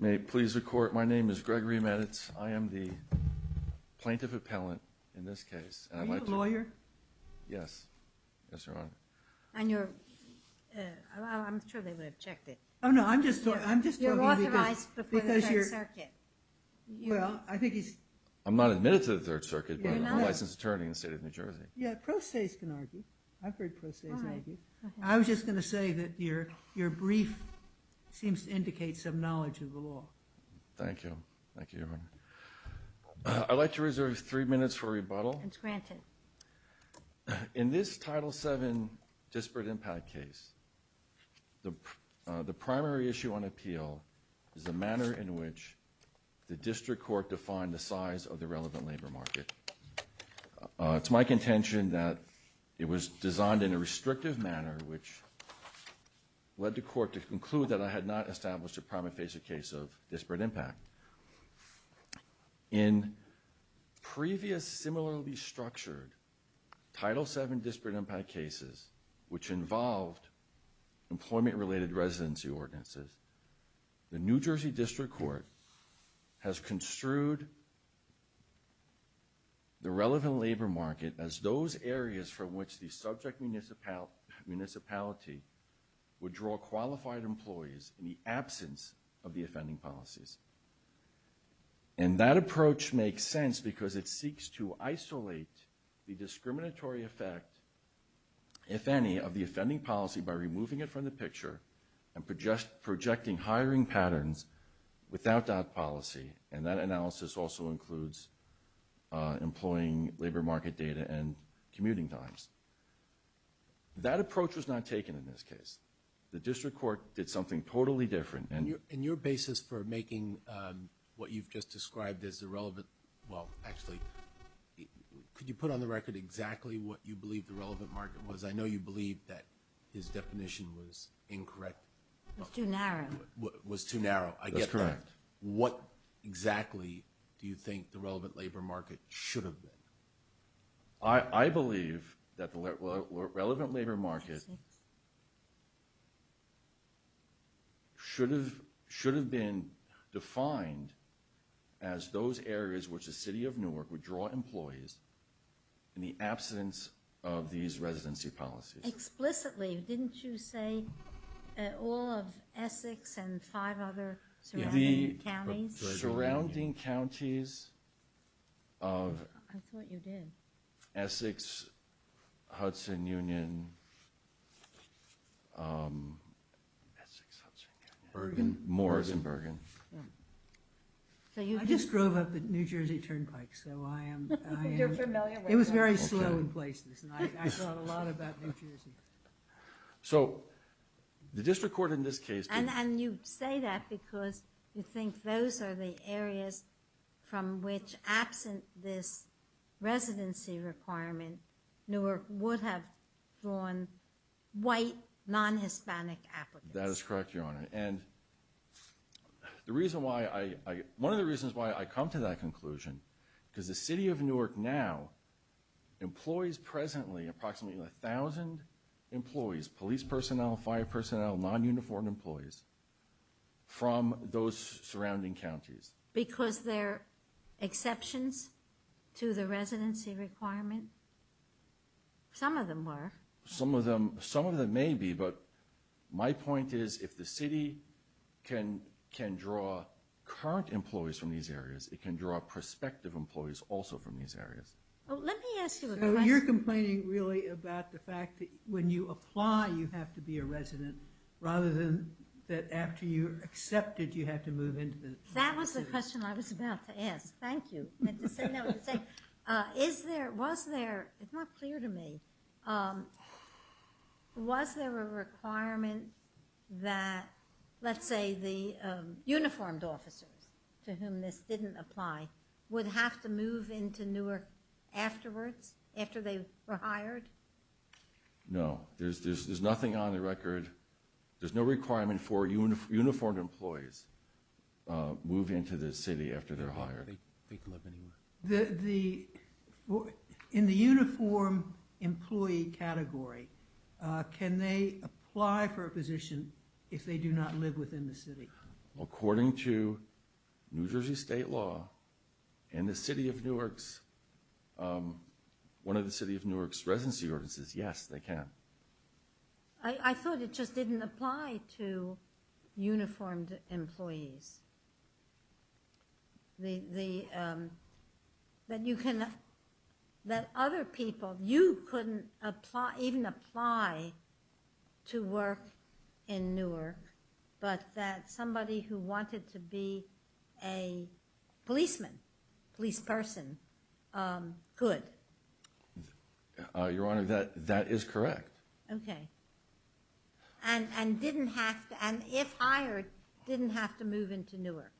May it please the court, my name is Gregory Meditz. I am the plaintiff appellant in this case. Are you a lawyer? Yes, yes Your Honor. And you're, I'm sure they would have checked it. Oh no, I'm just talking, I'm just talking. You're authorized before the Third Circuit. Well, I think he's, I'm not admitted to the Third Circuit, but I'm a licensed attorney in the state of New Jersey. Yeah, pro se's can argue. I've heard pro se's argue. I was just going to say that your, your brief seems to indicate some knowledge of the law. Thank you, thank you Your Honor. I'd like to reserve three minutes for rebuttal. It's granted. In this Title VII disparate impact case, the primary issue on appeal is the manner in which the district court defined the size of the relevant labor market. It's my contention that it was designed in a restrictive manner which led the court to conclude that I had not established a case of disparate impact. In previous similarly structured Title VII disparate impact cases, which involved employment related residency ordinances, the New Jersey District Court has construed the relevant labor market as those areas from which the subject municipality would draw qualified employees in the absence of the offending policies. And that approach makes sense because it seeks to isolate the discriminatory effect, if any, of the offending policy by removing it from the picture and projecting hiring patterns without that policy. And that analysis also includes employing labor market data and commuting times. That approach was not taken in this case. The district court did something totally different. And your basis for making what you've just described as the relevant, well actually, could you put on the record exactly what you believe the relevant market was? I know you believe that his definition was incorrect. It was too narrow. It was too narrow, I get that. What exactly do you think the relevant labor market should have been? I believe that the relevant labor market should have been defined as those areas which the City of Newark would draw employees in the absence of these residency policies. Explicitly, didn't you say all of Essex and five other surrounding counties of Essex, Hudson Union, Moores and Bergen. I just drove up at New Jersey Turnpike. It was very slow in places, and I thought a lot about New Jersey. So the district court in this case... And you say that because you think those are the areas from which, absent this residency requirement, Newark would have drawn white, non-Hispanic applicants. That is correct, Your Honor. And the reason why, one of the reasons why I come to that conclusion, because the City of Newark now employs presently approximately 1,000 employees, police personnel, fire personnel, non-uniformed employees from those surrounding counties. Because they're exceptions to the residency requirement? Some of them are. Some of them some of them may be, but my point is if the city can can draw current employees from these areas, it can draw prospective employees also from these areas. You're complaining really about the fact that when you apply you have to be a resident rather than that after you accepted you have to move in. That was the question I was about to ask. Thank you. Is there, was there, it's not clear to me, was there a requirement that, let's say, the uniformed officers to whom this didn't apply would have to move into Newark afterwards, after they were hired? No, there's nothing on the record, there's no requirement for uniformed employees move into the city after they're hired. In the uniformed employee category, can they apply for a position if they do not live within the city? According to New Jersey state law, in the City of Newark's, one of the City of Newark's residency ordinances, yes they can. I thought it just didn't apply to uniformed employees. The, that you can, that other people, you couldn't apply, even apply to work in Newark, but that somebody who wanted to be a policeman, police person, could. Your Honor, that, that is correct. Okay, and, and didn't have to, and if hired, didn't have to move into Newark.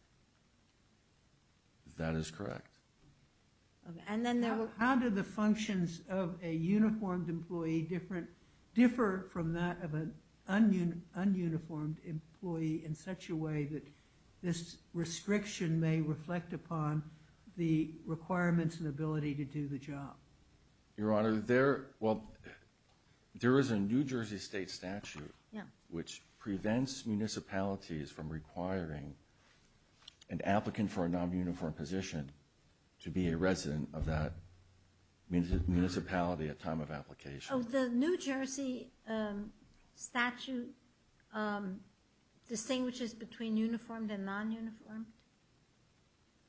That is correct. And then there were, how did the functions of a uniformed employee different, differ from that of an ununiformed employee in such a way that this restriction may reflect upon the requirements and ability to do the job? Your Honor, there, well, there is a New Jersey state statute, which prevents municipalities from requiring an applicant for a non-uniformed position to be a resident of that municipality at time of application. Oh, the New Jersey statute distinguishes between uniformed and non-uniformed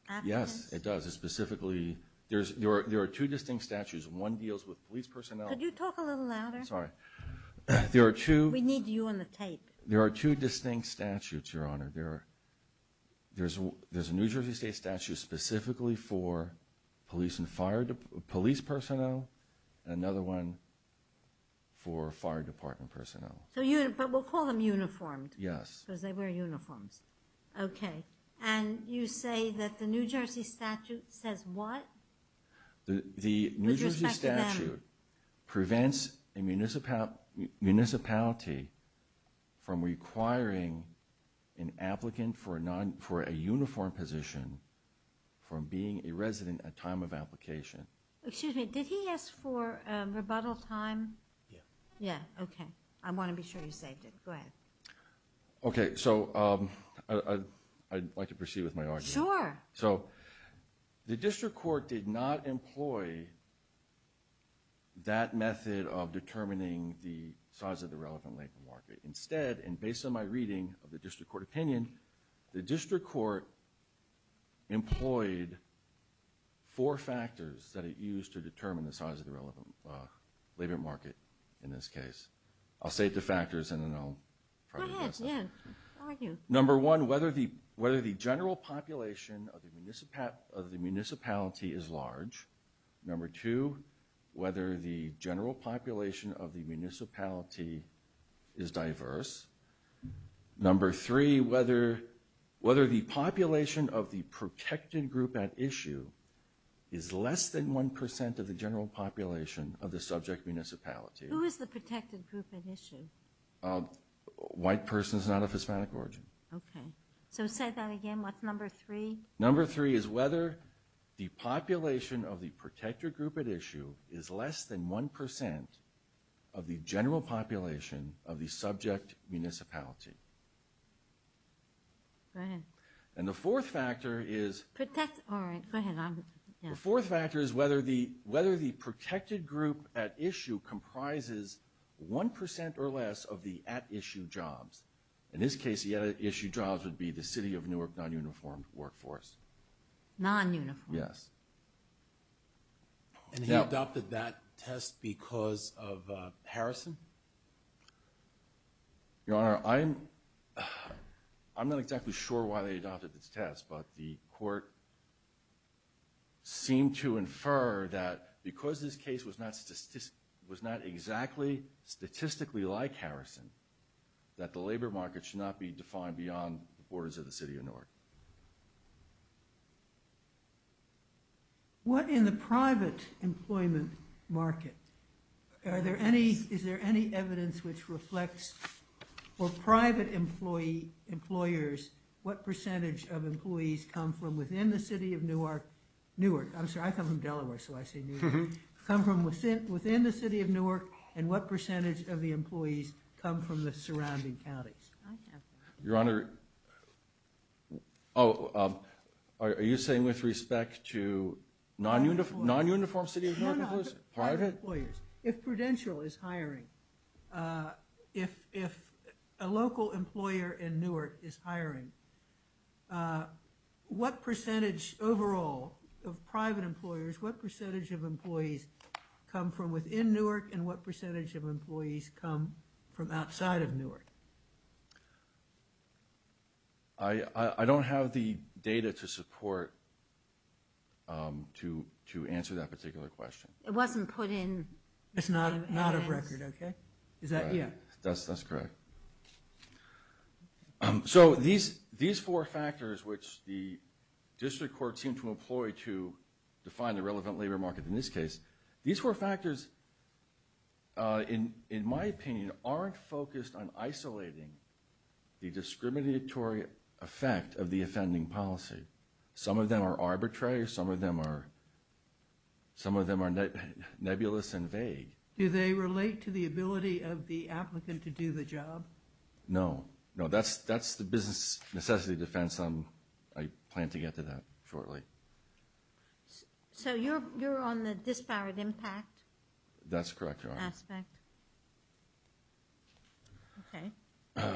applicants? Yes, it does. It specifically, there's, there are, there are two distinct statutes. One deals with police personnel. Could you talk a little louder? I'm sorry. There are two. We need you on the tape. There are two distinct statutes, Your Honor. There are, there's, there's a New Jersey state statute specifically for police and fire, police personnel. Another one for fire department personnel. So you, but we'll call them uniformed. Yes. Because they wear uniforms. Okay. And you say that the New Jersey statute says what? The, the New Jersey statute prevents a municipality, municipality from requiring an applicant for a non, for a uniform position from being a resident at time of application. Excuse me. Did he ask for rebuttal time? Yeah. Yeah. Okay. I want to be sure you saved it. Go ahead. Okay. So I'd like to proceed with my argument. Sure. So the district court did not employ that method of determining the size of the relevant labor market. Instead, and based on my reading of the district court opinion, the district court employed four factors that it used to determine the size of the relevant labor market in this case. I'll state the factors and then I'll try to address them. Go ahead, yeah, argue. Number one, whether the, whether the general population of the municipality, of the municipality is large. Number two, whether the general population of the municipality is diverse. Number three, whether, whether the population of the protected group at issue is less than one percent of the general population of the subject municipality. Who is the protected group at issue? White person is not of Hispanic origin. Okay. So say that again. What's number three? Number three is whether the population of the protected group at issue is less than one percent of the general population of the subject municipality. Go ahead. And the fourth factor is, protect, all right, go ahead, I'm, yeah. The fourth factor is whether the, whether the protected group at issue comprises one percent or less of the at-issue jobs. In this case, the at-issue jobs would be the City of Newark non-uniformed workforce. Non-uniformed? Yes. And he adopted that test because of Harrison? Your Honor, I'm, I'm not exactly sure why they adopted this test, but the court seemed to infer that because this case was not, was not exactly statistically like Harrison, that the labor market should not be defined beyond the borders of the City of Newark. What in the private employment market, are there any, is there any evidence which reflects for private employee, employers, what percentage of employees come from within the City of Newark, Newark, I'm sorry, I come from Delaware so I say Newark, come from within the City of Newark and what from the surrounding counties? Your Honor, oh, are you saying with respect to non-uniform, non-uniform City of Newark employees? Private? If Prudential is hiring, if a local employer in Newark is hiring, what percentage overall of private employers, what percentage of employees come from within Newark and what percentage of outside of Newark? I, I don't have the data to support, to, to answer that particular question. It wasn't put in. It's not, not of record, okay? Is that, yeah. That's, that's correct. So these, these four factors which the District Court seemed to employ to define the relevant labor market in this case, these four on isolating the discriminatory effect of the offending policy. Some of them are arbitrary, some of them are, some of them are nebulous and vague. Do they relate to the ability of the applicant to do the job? No, no, that's, that's the business necessity defense. I'm, I plan to get to that shortly. So you're, you're on the dispowered impact? That's correct, Your Honor. Aspect. Okay.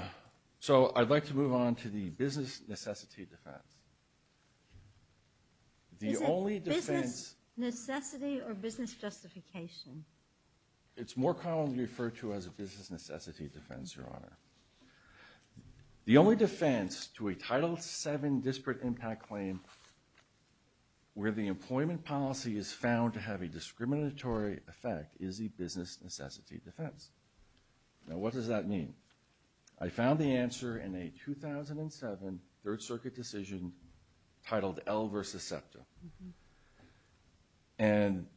So I'd like to move on to the business necessity defense. The only defense... Is it business necessity or business justification? It's more commonly referred to as a business necessity defense, Your Honor. The only defense to a Title VII disparate impact claim where the discriminatory effect is a business necessity defense. Now what does that mean? I found the answer in a 2007 Third Circuit decision titled L versus SEPTA. And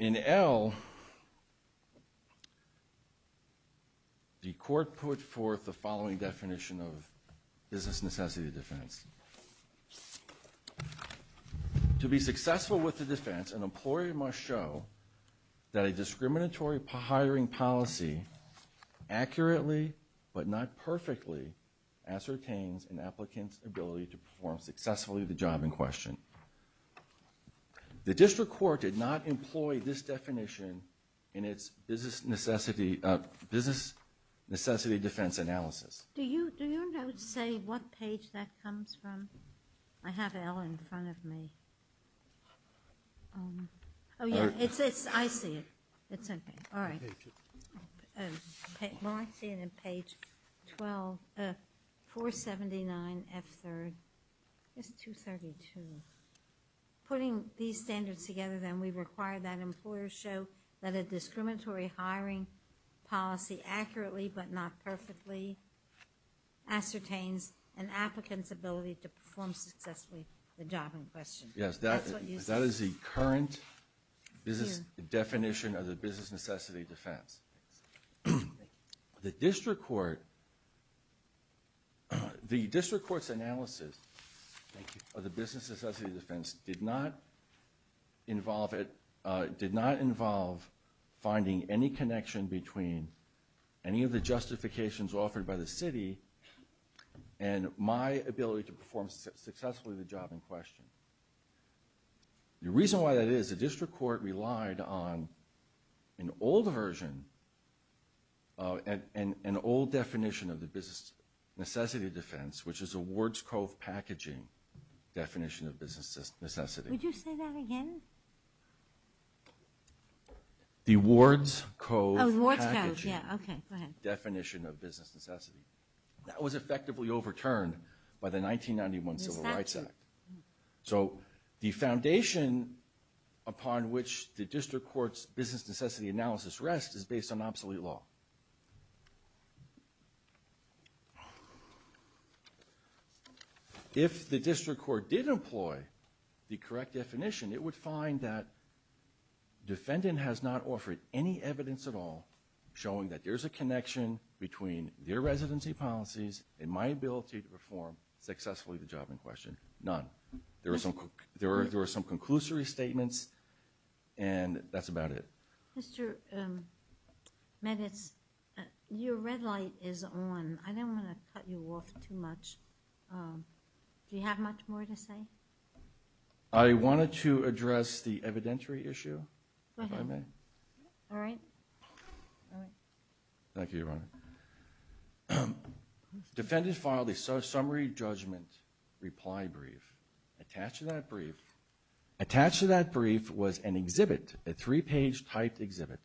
in L, the court put forth the following definition of business necessity defense. The court must show that a discriminatory hiring policy accurately but not perfectly ascertains an applicant's ability to perform successfully the job in question. The district court did not employ this definition in its business necessity, business necessity defense analysis. Do you, do you know to say what page that comes from? I have L in front of me. Oh yeah, it's, it's, I see it. It's okay. All right. Well, I see it in page 12, 479 F3rd. It's 232. Putting these standards together then we require that employers show that a discriminatory hiring policy accurately but not perfectly ascertains an applicant's ability to perform successfully the job in question. Yes, that is the current business definition of the business necessity defense. The district court, the district court's analysis of the business necessity defense did not involve it, did not involve the justifications offered by the city and my ability to perform successfully the job in question. The reason why that is, the district court relied on an old version, an old definition of the business necessity defense, which is a Ward's Cove packaging definition of business necessity. Would you say that again? The Ward's Cove packaging definition of business necessity. That was effectively overturned by the 1991 Civil Rights Act. So the foundation upon which the district court's business did employ the correct definition, it would find that defendant has not offered any evidence at all showing that there's a connection between their residency policies and my ability to perform successfully the job in question. None. There were some, there were some conclusory statements and that's about it. Mr. Meditz, your red light is on. I don't want to cut you off too much. Do you have much more to say? I wanted to address the evidentiary issue, if I may. All right. Thank you, Your Honor. Defendant filed a summary judgment reply brief. Attached to that brief, attached to that brief was an exhibit, a three-page typed exhibit.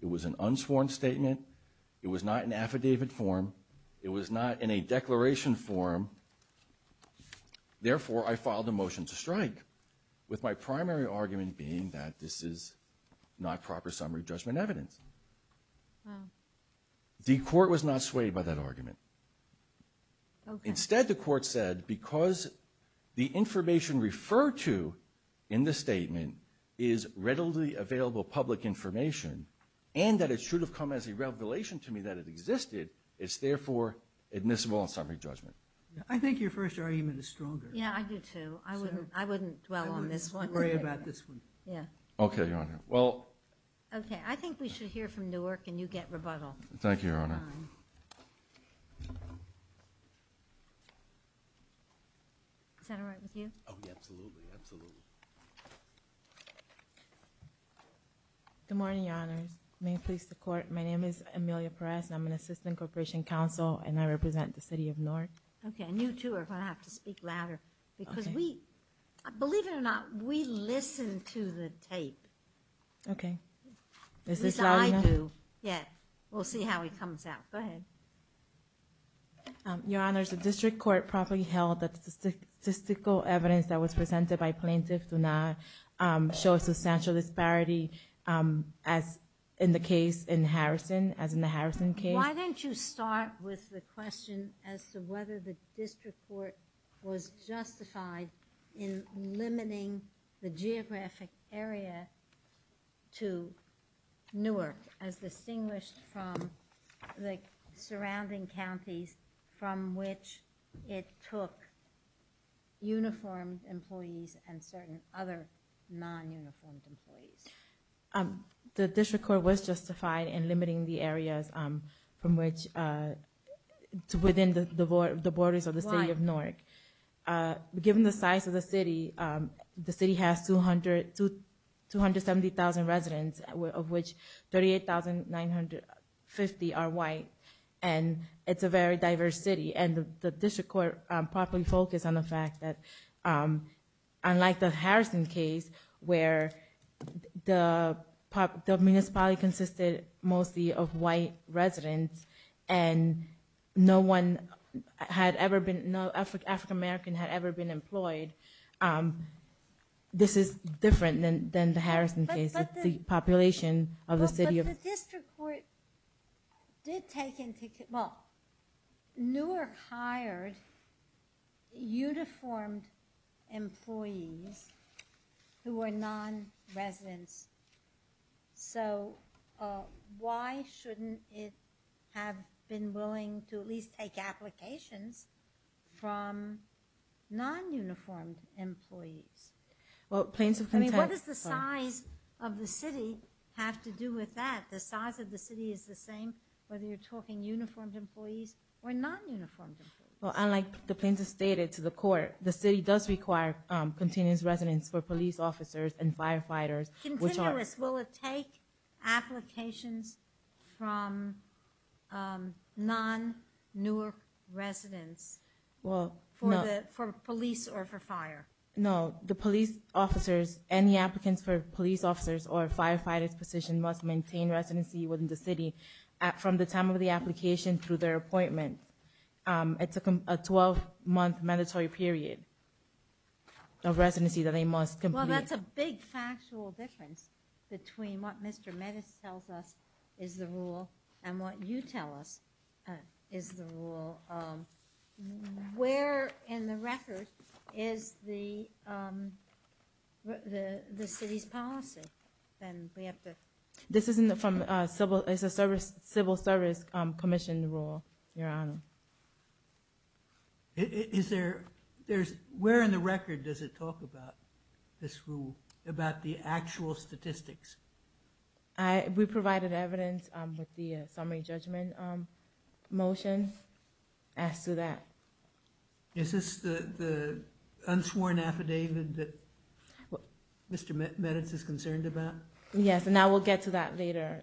It was an unsworn statement. It was not an evidence. Therefore, I filed a motion to strike with my primary argument being that this is not proper summary judgment evidence. The court was not swayed by that argument. Instead, the court said because the information referred to in the statement is readily available public information and that it should have come as a revelation to me that it existed, it's therefore admissible on summary judgment. I think your first argument is stronger. Yeah, I do too. I wouldn't dwell on this one. I wouldn't worry about this one. Yeah. Okay, Your Honor. Well. Okay, I think we should hear from Newark and you get rebuttal. Thank you, Your Honor. Is that all right with you? Oh, yeah, absolutely. Absolutely. Good morning, Your Honors. May it please the court. My name is Amelia Perez. I'm an assistant corporation counsel and I represent the city of Newark. I'm going to speak louder because we, believe it or not, we listen to the tape. Okay. Is this loud enough? Yes, we'll see how it comes out. Go ahead. Your Honors, the district court properly held that the statistical evidence that was presented by plaintiffs do not show a substantial disparity as in the case in Harrison, as in the Harrison case. Why don't you start with the question as to whether the district court was justified in limiting the geographic area to Newark as distinguished from the surrounding counties from which it took uniformed employees and certain other non-uniformed employees. The district court was justified in limiting the areas from which, within the borders of the city of Newark. Given the size of the city, the city has 270,000 residents of which 38,950 are white and it's a very diverse city and the district court properly focused on the fact that unlike the Harrison case where the municipality consisted mostly of white residents and no one had ever been, no African-American had ever been employed, this is different than the Harrison case. It's the population of the city. But the district court did take into account, well, Newark hired uniformed employees who were non-residents, so why shouldn't it have been willing to at least take applications from non-uniformed employees? I mean, what does the size of the city have to do with that? The size of the city is the same whether you're talking uniformed employees or non-uniformed employees. Well, unlike the plaintiff stated to the court, the city does require continuous residence for police officers and firefighters. Continuous, will it take applications from non-Newark residents for police or for fire? No, the police officers and the applicants for police officers or firefighters position must maintain residency within the city from the time of the application through their appointment. It's a 12-month mandatory period of residency that they must complete. Well, that's a big factual difference between what Mr. Metis tells us is the rule and what you tell us is the rule. Where in the record is the city's policy? Then we have to... This isn't from civil, it's a law, Your Honor. Where in the record does it talk about this rule, about the actual statistics? We provided evidence with the summary judgment motion as to that. Is this the unsworn affidavit that Mr. Metis is concerned about? Yes, and we'll get to that later.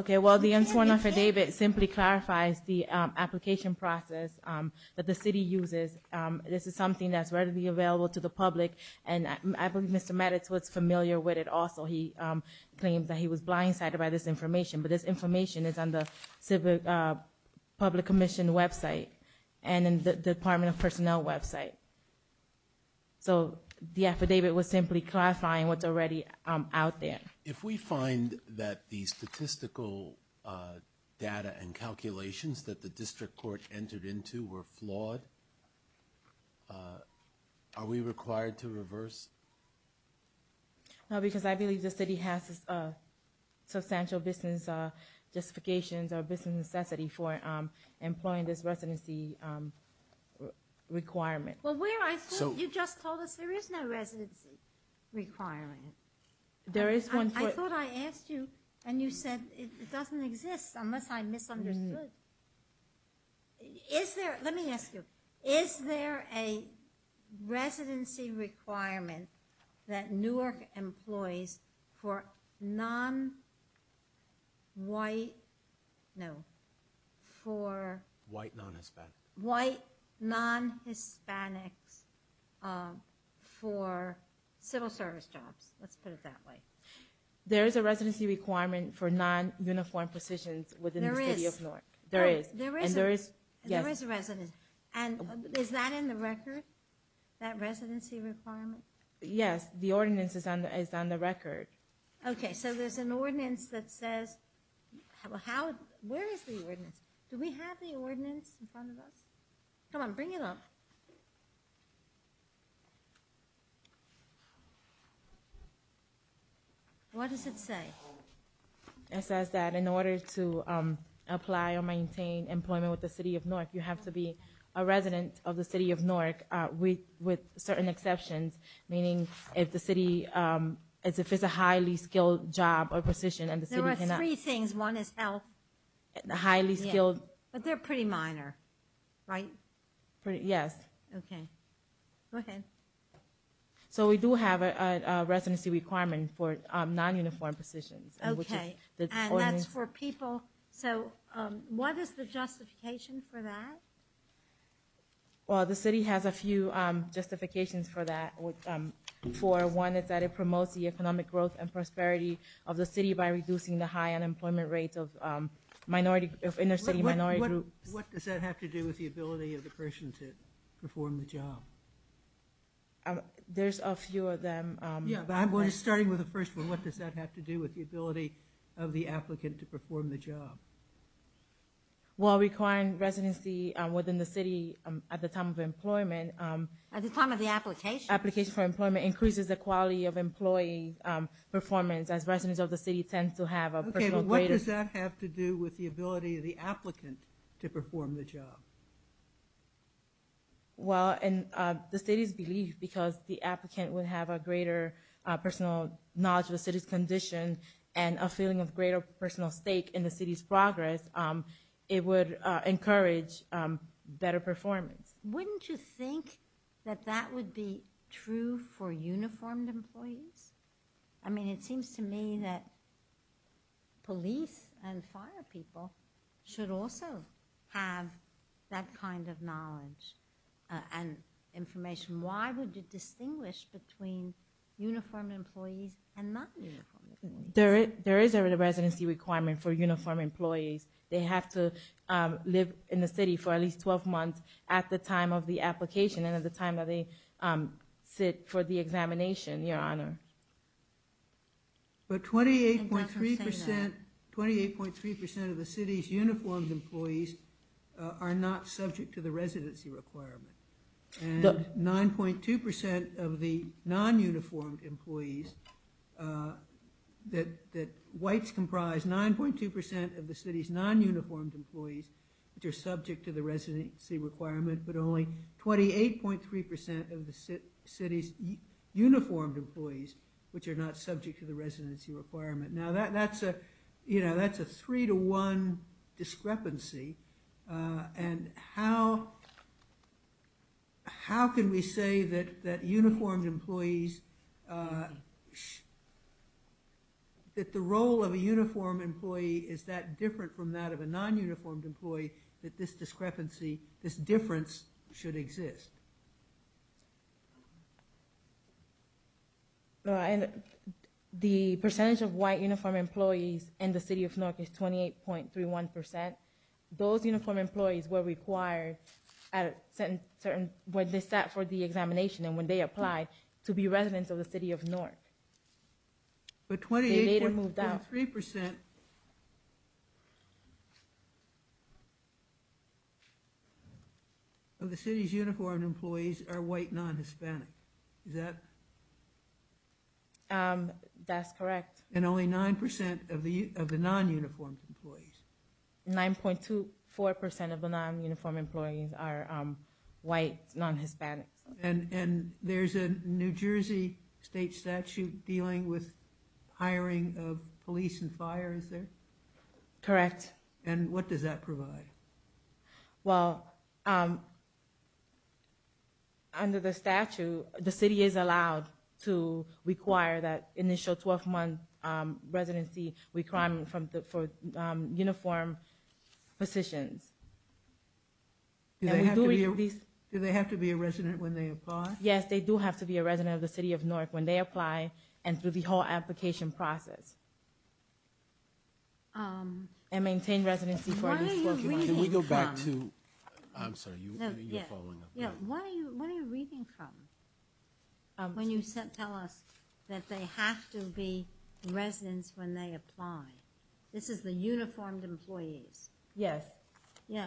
Okay, well, the unsworn affidavit simply clarifies the application process that the city uses. This is something that's ready to be available to the public and I believe Mr. Metis was familiar with it also. He claims that he was blindsided by this information, but this information is on the Civic Public Commission website and in the Department of Personnel website. So, the affidavit was simply clarifying what's already out there. If we find that the statistical data and calculations that the district court entered into were flawed, are we required to reverse? No, because I believe the city has substantial business justifications or business necessity for employing this Well, where I thought, you just told us there is no residency requirement. There is one point. I thought I asked you and you said it doesn't exist unless I misunderstood. Is there, let me ask you, is there a residency requirement that Newark employs for non-white, no, for white non-Hispanics for civil service jobs? Let's put it that way. There is a residency requirement for non-uniform positions within the city of Newark. There is. And there is a residency. And is that in the record? That residency requirement? Yes, the ordinance is on the record. Okay, so there's an ordinance that says, how, where is the ordinance? Do we have the ordinance in front of us? Come on, bring it up. What does it say? It says that in order to apply or maintain employment with the city of Newark, you have to be a resident of the city of Newark with certain exceptions, meaning if the city, if it's a highly skilled job or position and the city cannot. There are three things. One is health. The highly skilled. But they're pretty minor, right? Yes. Okay, go ahead. So we do have a residency requirement for non-uniform positions. Okay, and that's for people. So what is the justification for that? Well, the city has a few justifications for that. For one, it's that it promotes the economic growth and prosperity of the city by reducing the high unemployment rates of minority, of inner-city minority groups. What does that have to do with the ability of the person to perform the job? There's a few of them. Yeah, but I'm starting with the first one. What does that have to do with the ability of the applicant to perform the job? Well, requiring residency within the city at the time of employment. At the time of the application. Application for employment increases the quality of employee performance as residents of the city tend to have a personal. Okay, but what does that have to do with the ability of the applicant to perform the job? Well, in the city's belief, because the applicant would have a greater personal knowledge of the city's condition and a feeling of greater personal stake in the city's progress, it would encourage better performance. Wouldn't you think that that would be true for uniformed employees? I mean, it seems to me that police and fire people should also have that kind of knowledge and information. Why would you distinguish between uniformed and non-uniformed? There is a residency requirement for uniformed employees. They have to live in the city for at least 12 months at the time of the application and at the time that they sit for the examination, your honor. But 28.3 percent of the city's uniformed employees are not subject to the residency requirement. And 9.2 percent of the non-uniformed employees that whites comprise, 9.2 percent of the city's non-uniformed employees which are subject to the residency requirement, but only 28.3 percent of the city's uniformed employees which are not subject to the residency requirement. Now that's a three-to-one discrepancy. And how can we say that uniformed employees, that the role of a uniformed employee is that different from that of a non-uniformed employee, that this discrepancy, this difference should exist? No, and the percentage of white uniformed employees in the city of Newark is 28.31 percent. Those uniformed employees were required at a certain, when they sat for the examination and when they applied to be residents of the city of Newark. But 28.3 percent of the city's uniformed employees are white non-Hispanic, is that? That's correct. And only 9 percent of the non-uniformed employees? 9.4 percent of the non-uniformed employees are white non-Hispanics. And there's a New Jersey state statute dealing with hiring of police and fire, is there? Correct. And what does that provide? Well, under the statute, the city is allowed to require that initial 12-month residency requirement for uniform positions. Do they have to be a resident when they apply? Yes, they do have to be a resident of the city of Newark when they apply and through the whole application process. And maintain residency for at least 12 months. Can we go back to, I'm sorry, you're following up. Yeah, what are you reading from when you tell us that they have to be residents when they apply? This is the uniformed employees? Yes. Yeah,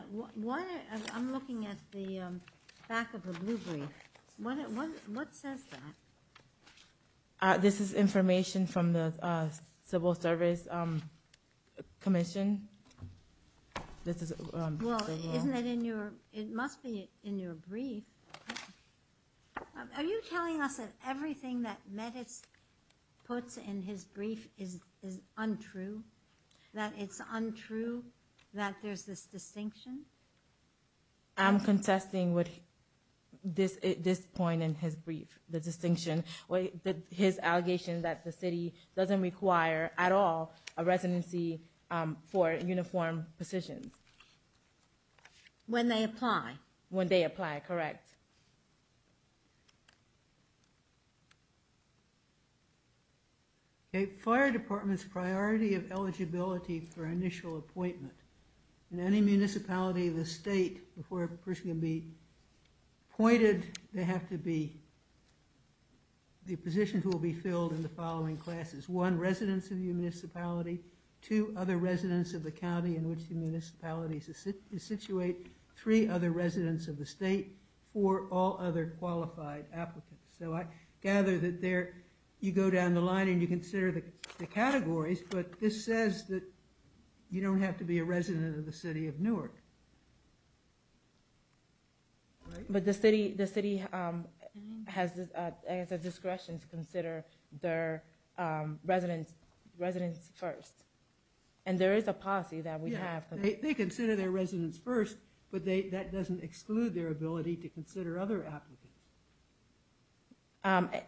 I'm looking at the back of the blue brief. What says that? This is information from the Civil Service Commission. Well, isn't it in your, it must be in your brief. Are you telling us that everything that that it's untrue, that there's this distinction? I'm contesting with this point in his brief, the distinction, his allegation that the city doesn't require at all a residency for uniform positions. When they apply? When they apply, correct. Okay, fire department's priority of eligibility for initial appointment. In any municipality of the state, before a person can be appointed, they have to be, the positions will be filled in the following classes. One, residents of the municipality. Two, other residents of the county in which the municipality is situated. Three, other residents of the state. Four, all other qualified applicants. So I gather that there, you go down the line and you consider the categories, but this says that you don't have to be a resident of the city of Newark. But the city has a discretion to consider their residents first. And there is a policy that we have. They consider their residents first, but that doesn't exclude their ability to consider other applicants.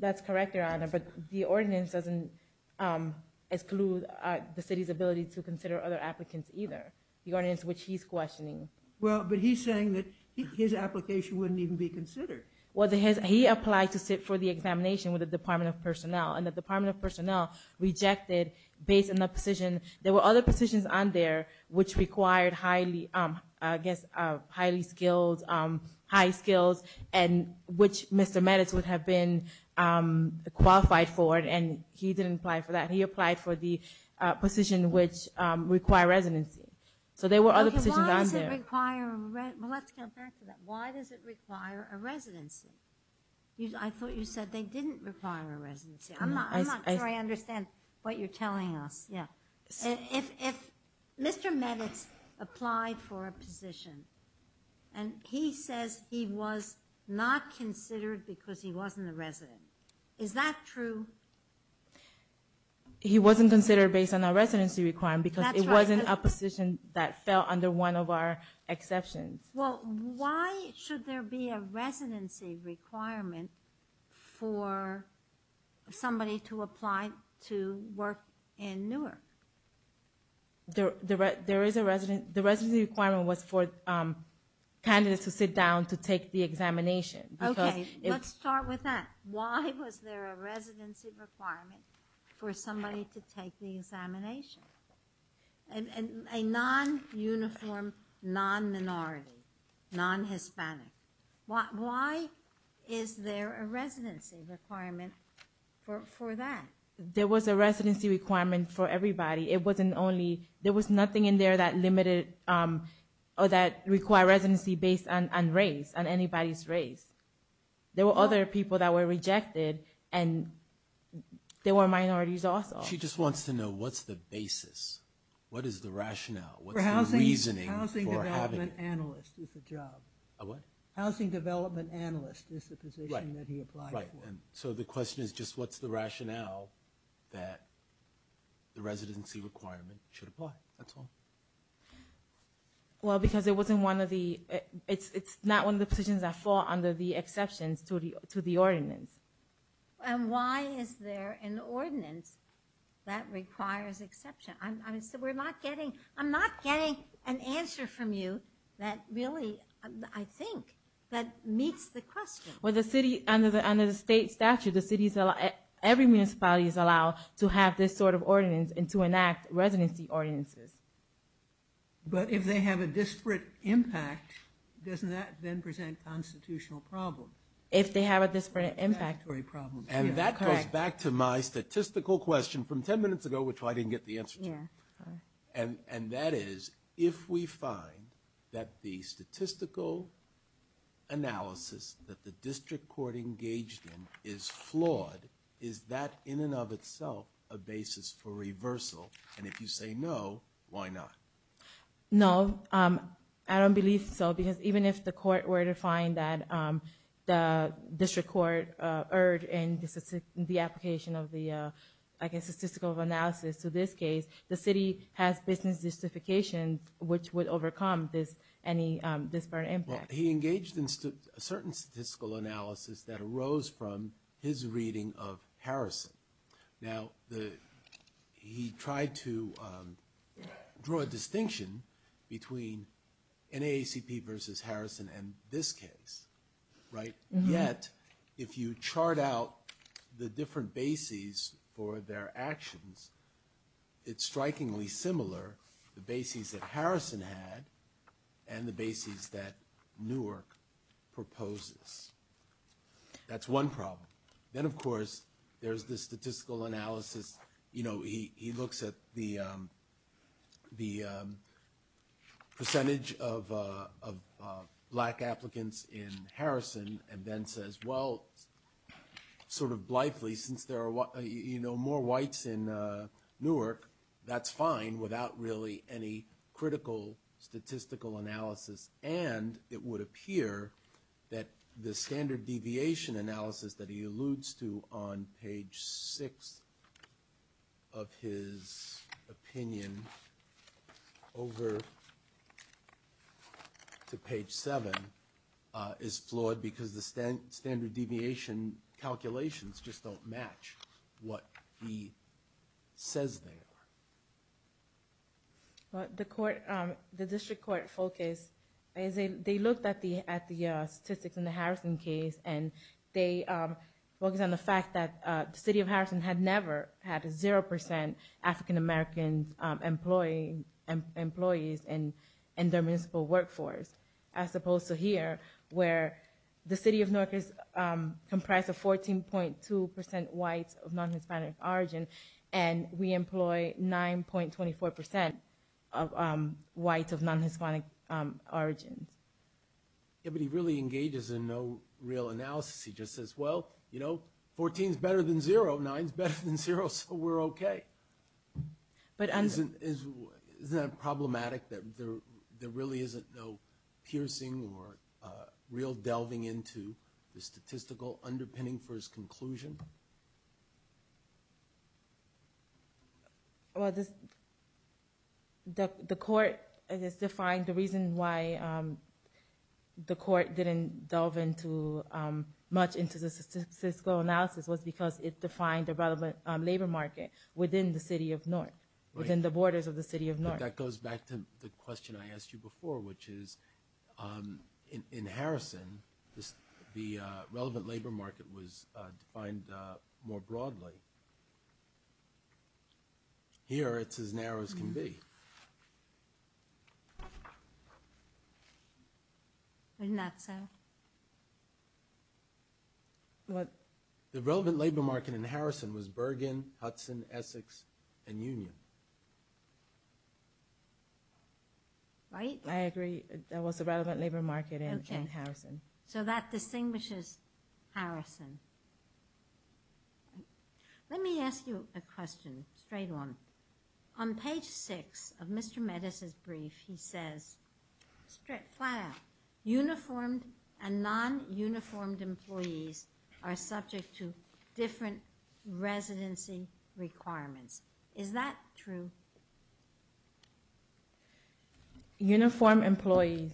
That's correct, Your Honor, but the ordinance doesn't exclude the city's ability to consider other applicants either. The ordinance which he's questioning. Well, but he's saying that his application wouldn't even be considered. Well, he applied to sit for the examination with the Department of Personnel, and the Department of Personnel rejected based on the positions on there which required highly, I guess, highly skilled, high skills, and which Mr. Meadows would have been qualified for, and he didn't apply for that. He applied for the position which required residency. So there were other positions on there. Okay, why does it require, well, let's go back to that. Why does it require a residency? I thought you said they didn't require a residency. I'm not sure I understand what you're telling us. Yeah. If Mr. Meadows applied for a position, and he says he was not considered because he wasn't a resident, is that true? He wasn't considered based on a residency requirement because it wasn't a position that fell under one of our exceptions. Well, why should there be a residency requirement for somebody to apply to work in Newark? There is a residency requirement was for candidates who sit down to take the examination. Okay, let's start with that. Why was there a residency requirement for somebody to take the examination? A non-uniform, non-minority, non-Hispanic. Why is there a residency requirement for that? There was a residency requirement for everybody. It wasn't only, there was nothing in there that required residency based on race, on anybody's race. There were other people that were rejected, and there were minorities also. She just wants to know what's the basis, what is the rationale, what's the reasoning for having it? Housing development analyst is the job. Housing development analyst is the position that he applied for. So the question is just what's the rationale that the residency requirement should apply? That's all. Well, because it wasn't one of the, it's not one of the positions that fall under the exceptions to the ordinance. And why is there an ordinance that requires exception? I'm so, we're not getting, I'm not getting an answer from you that really, I think, that meets the question. Well, the city, under the state statute, the cities, every municipality is allowed to have this sort of ordinance and to enact residency ordinances. But if they have a disparate impact, doesn't that then present a constitutional problem? If they have a disparate impact. And that goes back to my statistical question from 10 minutes ago, which I didn't get the answer to. And that is, if we find that the statistical analysis that the district court engaged in is flawed, is that in and of itself a basis for reversal? And if you say no, why not? No, I don't believe so. Because even if the court were to find that the district court erred in the application of the, I guess, statistical analysis to this case, the city has business justification which would overcome this, any disparate impact. He engaged in a certain statistical analysis that arose from his reading of Harrison. Now, the, he tried to draw a distinction between NAACP versus Harrison and this case, right? Yet, if you chart out the different bases for their actions, it's strikingly similar, the bases that Harrison had and the bases that Newark proposes. That's one problem. Then, of course, there's the statistical analysis. He looks at the percentage of black applicants in Harrison and then says, well, sort of blithely, since there are more whites in Newark, that's fine without really any critical statistical analysis. And it would appear that the standard deviation analysis that he alludes to on page 6 of his opinion over to page 7 is flawed because the standard deviation calculations just don't match what he statistics in the Harrison case and they focus on the fact that the city of Harrison had never had 0% African-American employees in their municipal workforce as opposed to here where the city of Newark is comprised of 14.2% whites of non-Hispanic origin and we employ 9.24% of whites of non-Hispanic origins. Yeah, but he really engages in no real analysis. He just says, well, you know, 14 is better than 0, 9 is better than 0, so we're okay. Isn't that problematic that there really isn't no piercing or real delving into the statistical underpinning for his conclusion? Well, the court, I guess, defined the reason why the court didn't delve into much into the statistical analysis was because it defined the relevant labor market within the city of Newark, within the borders of the city of Newark. That goes back to the question I asked you before, which is in Harrison, the relevant labor market was defined more broadly. Here, it's as narrow as can be. Isn't that so? The relevant labor market in Harrison was Bergen, Hudson, Essex, and Union. Right? I agree. That was the relevant labor market in Harrison. So that distinguishes Harrison. Let me ask you a question, a straight one. On page six of Mr. Metis' brief, he says, straight, flat out, uniformed and non-uniformed employees are subject to different residency requirements. Is that true? Uniformed employees.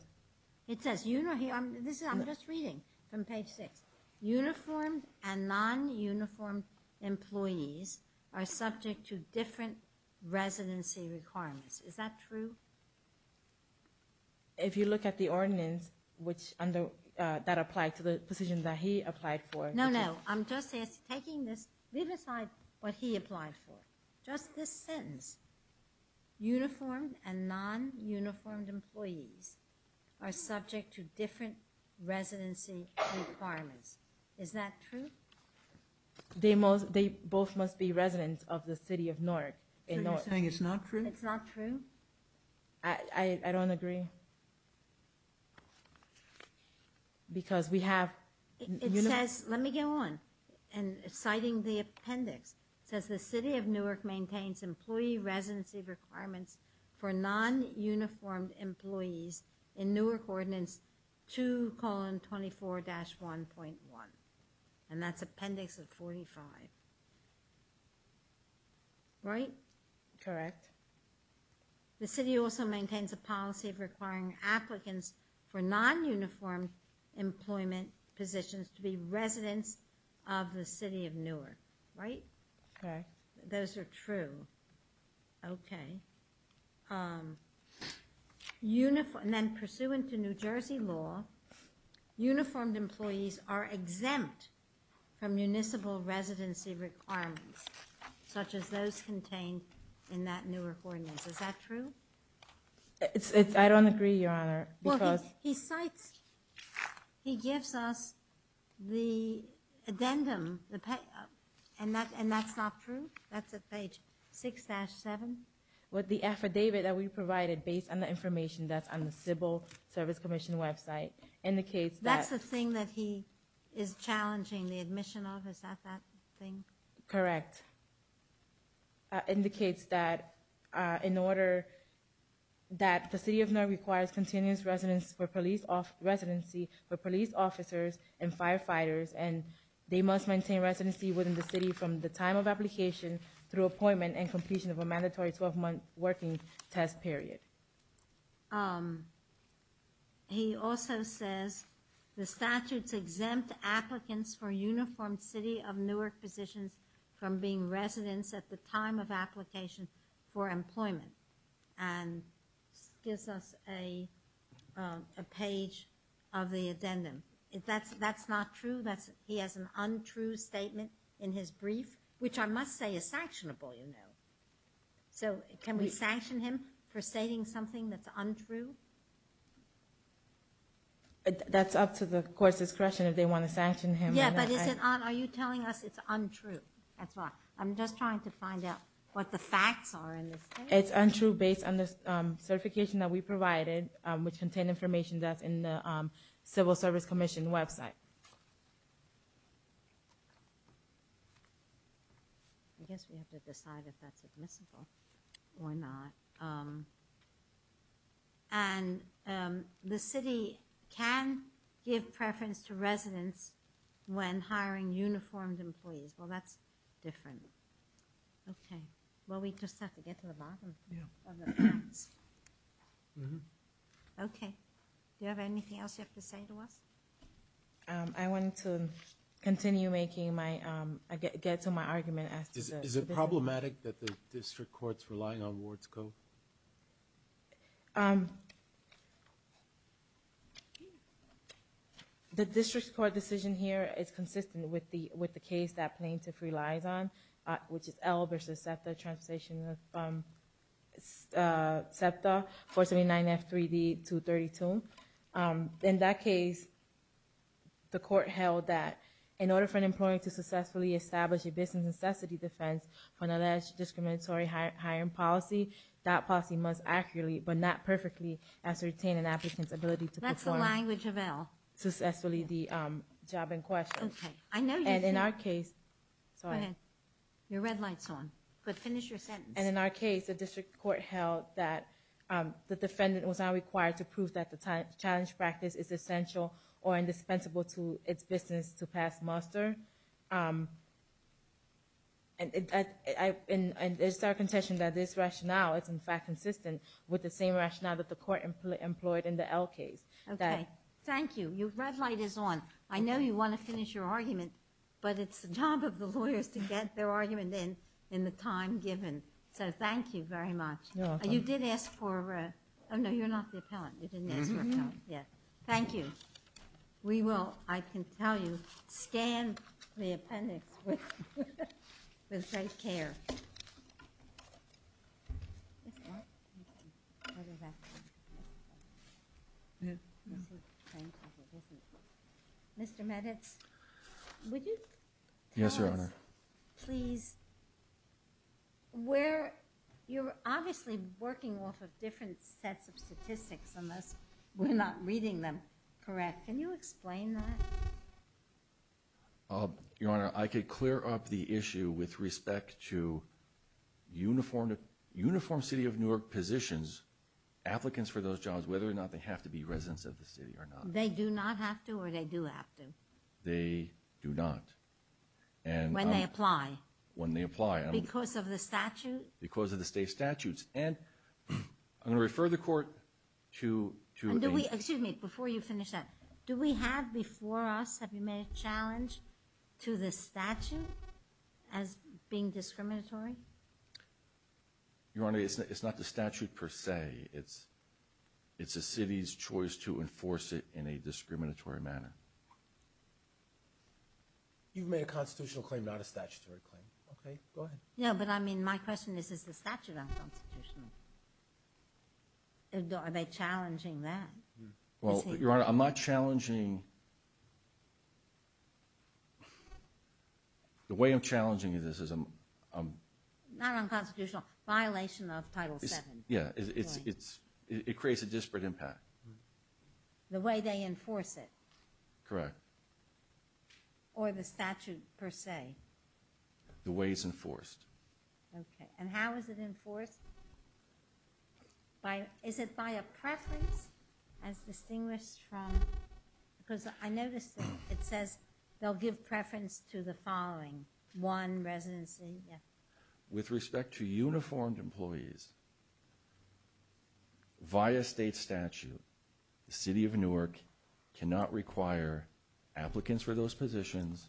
It says, I'm just reading from page six. Uniformed and non-uniformed employees are subject to different residency requirements. Is that true? If you look at the ordinance that applied to the positions that he applied for. No, no. I'm just taking this, leave aside what he applied for. Just this sentence. Uniformed and non-uniformed employees are subject to different residency requirements. Is that true? They both must be residents of the city of Newark. So you're saying it's not true? It's not true. I don't agree. Because we have... It says, let me go on. And citing the appendix. It says the city of Newark maintains employee residency requirements for non-uniformed employees in Newark ordinance 2 colon 24 dash 1.1. And that's appendix of 45. Right? Correct. The city also maintains a policy of requiring applicants for non-uniform employment positions to be residents of the city of Newark. Right? Right. Those are true. Okay. And then pursuant to New Jersey law, uniformed employees are exempt from municipal residency requirements such as those contained in that Newark ordinance. Is that true? I don't agree, Your Honor. He cites, he gives us the addendum, and that's not true? That's at page 6 dash 7? With the affidavit that we provided based on the information that's on the civil service commission website indicates that... That's the thing that he is challenging the admission of? Is that that thing? Correct. That indicates that in order... That the city of Newark requires continuous residence for police off... Residency for police officers and firefighters. And they must maintain residency within the city from the time of application through appointment and completion of a mandatory 12-month working test period. He also says the statutes exempt applicants for uniformed city of Newark positions from being residents at the time of application for employment. And gives us a page of the addendum. That's not true? He has an untrue statement in his brief? Which I must say is sanctionable, you know. So can we sanction him for stating something that's untrue? That's up to the court's discretion if they want to sanction him. Yeah, but is it... Are you telling us it's untrue? I'm just trying to find out what the facts are in this case. It's untrue based on the certification that we provided which contained information that's in the civil service commission website. I guess we have to decide if that's admissible or not. And the city can give preference to residents when hiring uniformed employees. Well, that's different. Okay. Well, we just have to get to the bottom of the facts. Okay. Do you have anything else you have to say to us? I want to continue making my... Get to my argument as to the... Is it problematic that the district court's relying on Ward's code? Okay. The district court decision here is consistent with the case that plaintiff relies on, which is L versus SEPTA translation of SEPTA 479F3D232. In that case, the court held that in order for an employee to successfully establish a business necessity defense when alleged discriminatory hiring policy, that policy must accurately but not perfectly ascertain an applicant's ability to perform... That's the language of L. ...successfully the job in question. Okay. I know you do. And in our case... Sorry. Go ahead. Your red light's on. But finish your sentence. And in our case, the district court held that the defendant was not required to prove that the challenge practice is essential or indispensable to its business to pass muster. And it's our contention that this rationale is in fact consistent with the same rationale that the court employed in the L case. Okay. Thank you. Your red light is on. I know you want to finish your argument, but it's the job of the lawyers to get their argument in in the time given. So thank you very much. You're welcome. You did ask for... Oh, no, you're not the appellant. You didn't ask for an appellant. Yeah. Thank you. We will, I can tell you, scan the appendix with great care. Mr. Meditz, would you... Yes, Your Honor. Please... Where... You're obviously working off of different sets of statistics unless we're not reading them correct. Can you explain that? Your Honor, I could clear up the issue with respect to uniform City of Newark positions, applicants for those jobs, whether or not they have to be residents of the city or not. They do not have to or they do have to? They do not. When they apply? When they apply. Because of the statute? Because of the state statutes. And I'm going to refer the court to... Excuse me. Before you finish that, do we have before us, have you made a challenge to the statute as being discriminatory? Your Honor, it's not the statute per se. It's a city's choice to enforce it in a discriminatory manner. You've made a constitutional claim, not a statutory claim. Okay, go ahead. Yeah, but I mean, my question is, is the statute unconstitutional? Are they challenging that? Well, Your Honor, I'm not challenging... The way I'm challenging this is... Not unconstitutional, violation of Title VII. Yeah, it creates a disparate impact. The way they enforce it. Correct. Or the statute per se. The way it's enforced. Okay. And how is it enforced? Is it by a preference as distinguished from... Because I noticed that it says they'll give preference to the following. One, residency. With respect to uniformed employees, via state statute, the City of Newark cannot require applicants for those positions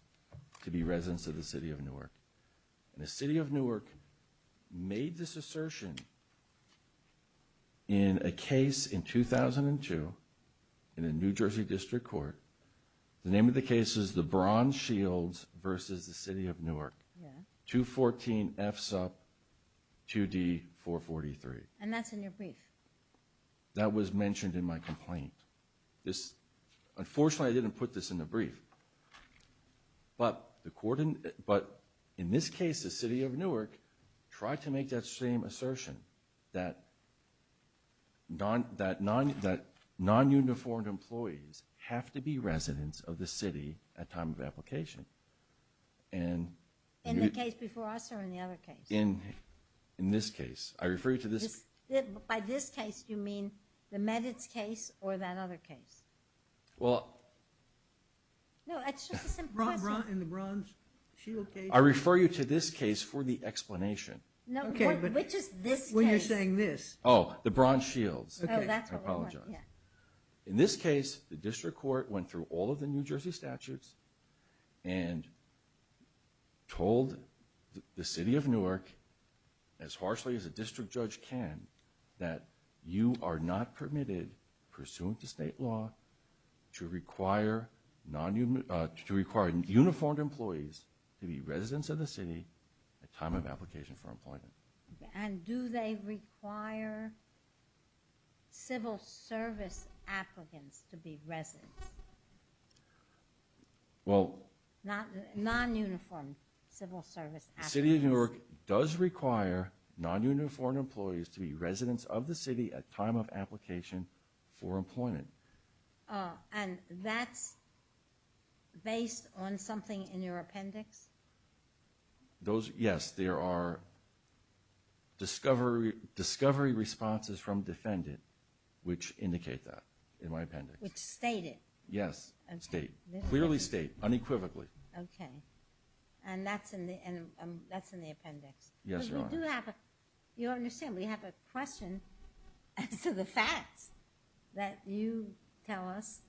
to be residents of the City of Newark. And the City of Newark made this assertion in a case in 2002, in a New Jersey District Court. The name of the case is the Bronze Shields versus the City of Newark. Yeah. 214 FSUP 2D443. And that's in your brief. That was mentioned in my complaint. This, unfortunately, I didn't put this in the brief. But, in this case, the City of Newark tried to make that same assertion that non-uniformed employees have to be residents of the city at time of application. In the case before us or in the other case? In this case. I refer you to this... By this case, do you mean the Meditz case or that other case? Well... No, it's just a simple question. In the Bronze Shield case? I refer you to this case for the explanation. No, which is this case? When you're saying this. Oh, the Bronze Shields. Oh, that's what we want, yeah. In this case, the District Court went through all of the New Jersey statutes and told the City of Newark, as harshly as a district judge can, that you are not permitted, pursuant to state law, to require uniformed employees to be residents of the city at time of application for employment. And do they require civil service applicants to be residents? Well... Non-uniformed civil service applicants. City of Newark does require non-uniformed employees to be residents of the city at time of application for employment. And that's based on something in your appendix? Yes, there are discovery responses from defendant, which indicate that in my appendix. Which state it? Yes, state. Clearly state, unequivocally. Okay. And that's in the appendix? Yes, Your Honor. You understand, we have a question as to the facts that you tell us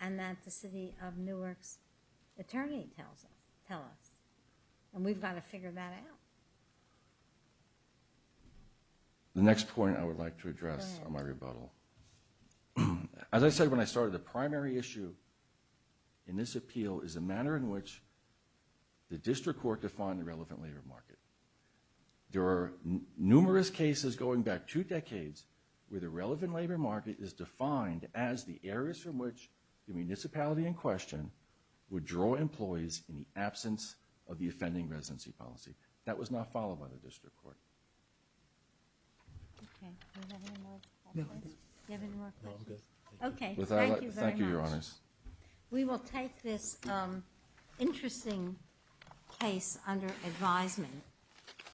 and that the City of Newark's attorney tells us. Tell us. And we've got to figure that out. The next point I would like to address on my rebuttal. As I said when I started, the primary issue in this appeal is the manner in which the district court defined the relevant labor market. There are numerous cases going back two decades where the relevant labor market is defined as the areas from which the municipality in question would draw employees in the absence of the offending residency policy. That was not followed by the district court. Okay. Do you have any more questions? Okay, thank you very much. Thank you, Your Honors. We will take this interesting case under advisement.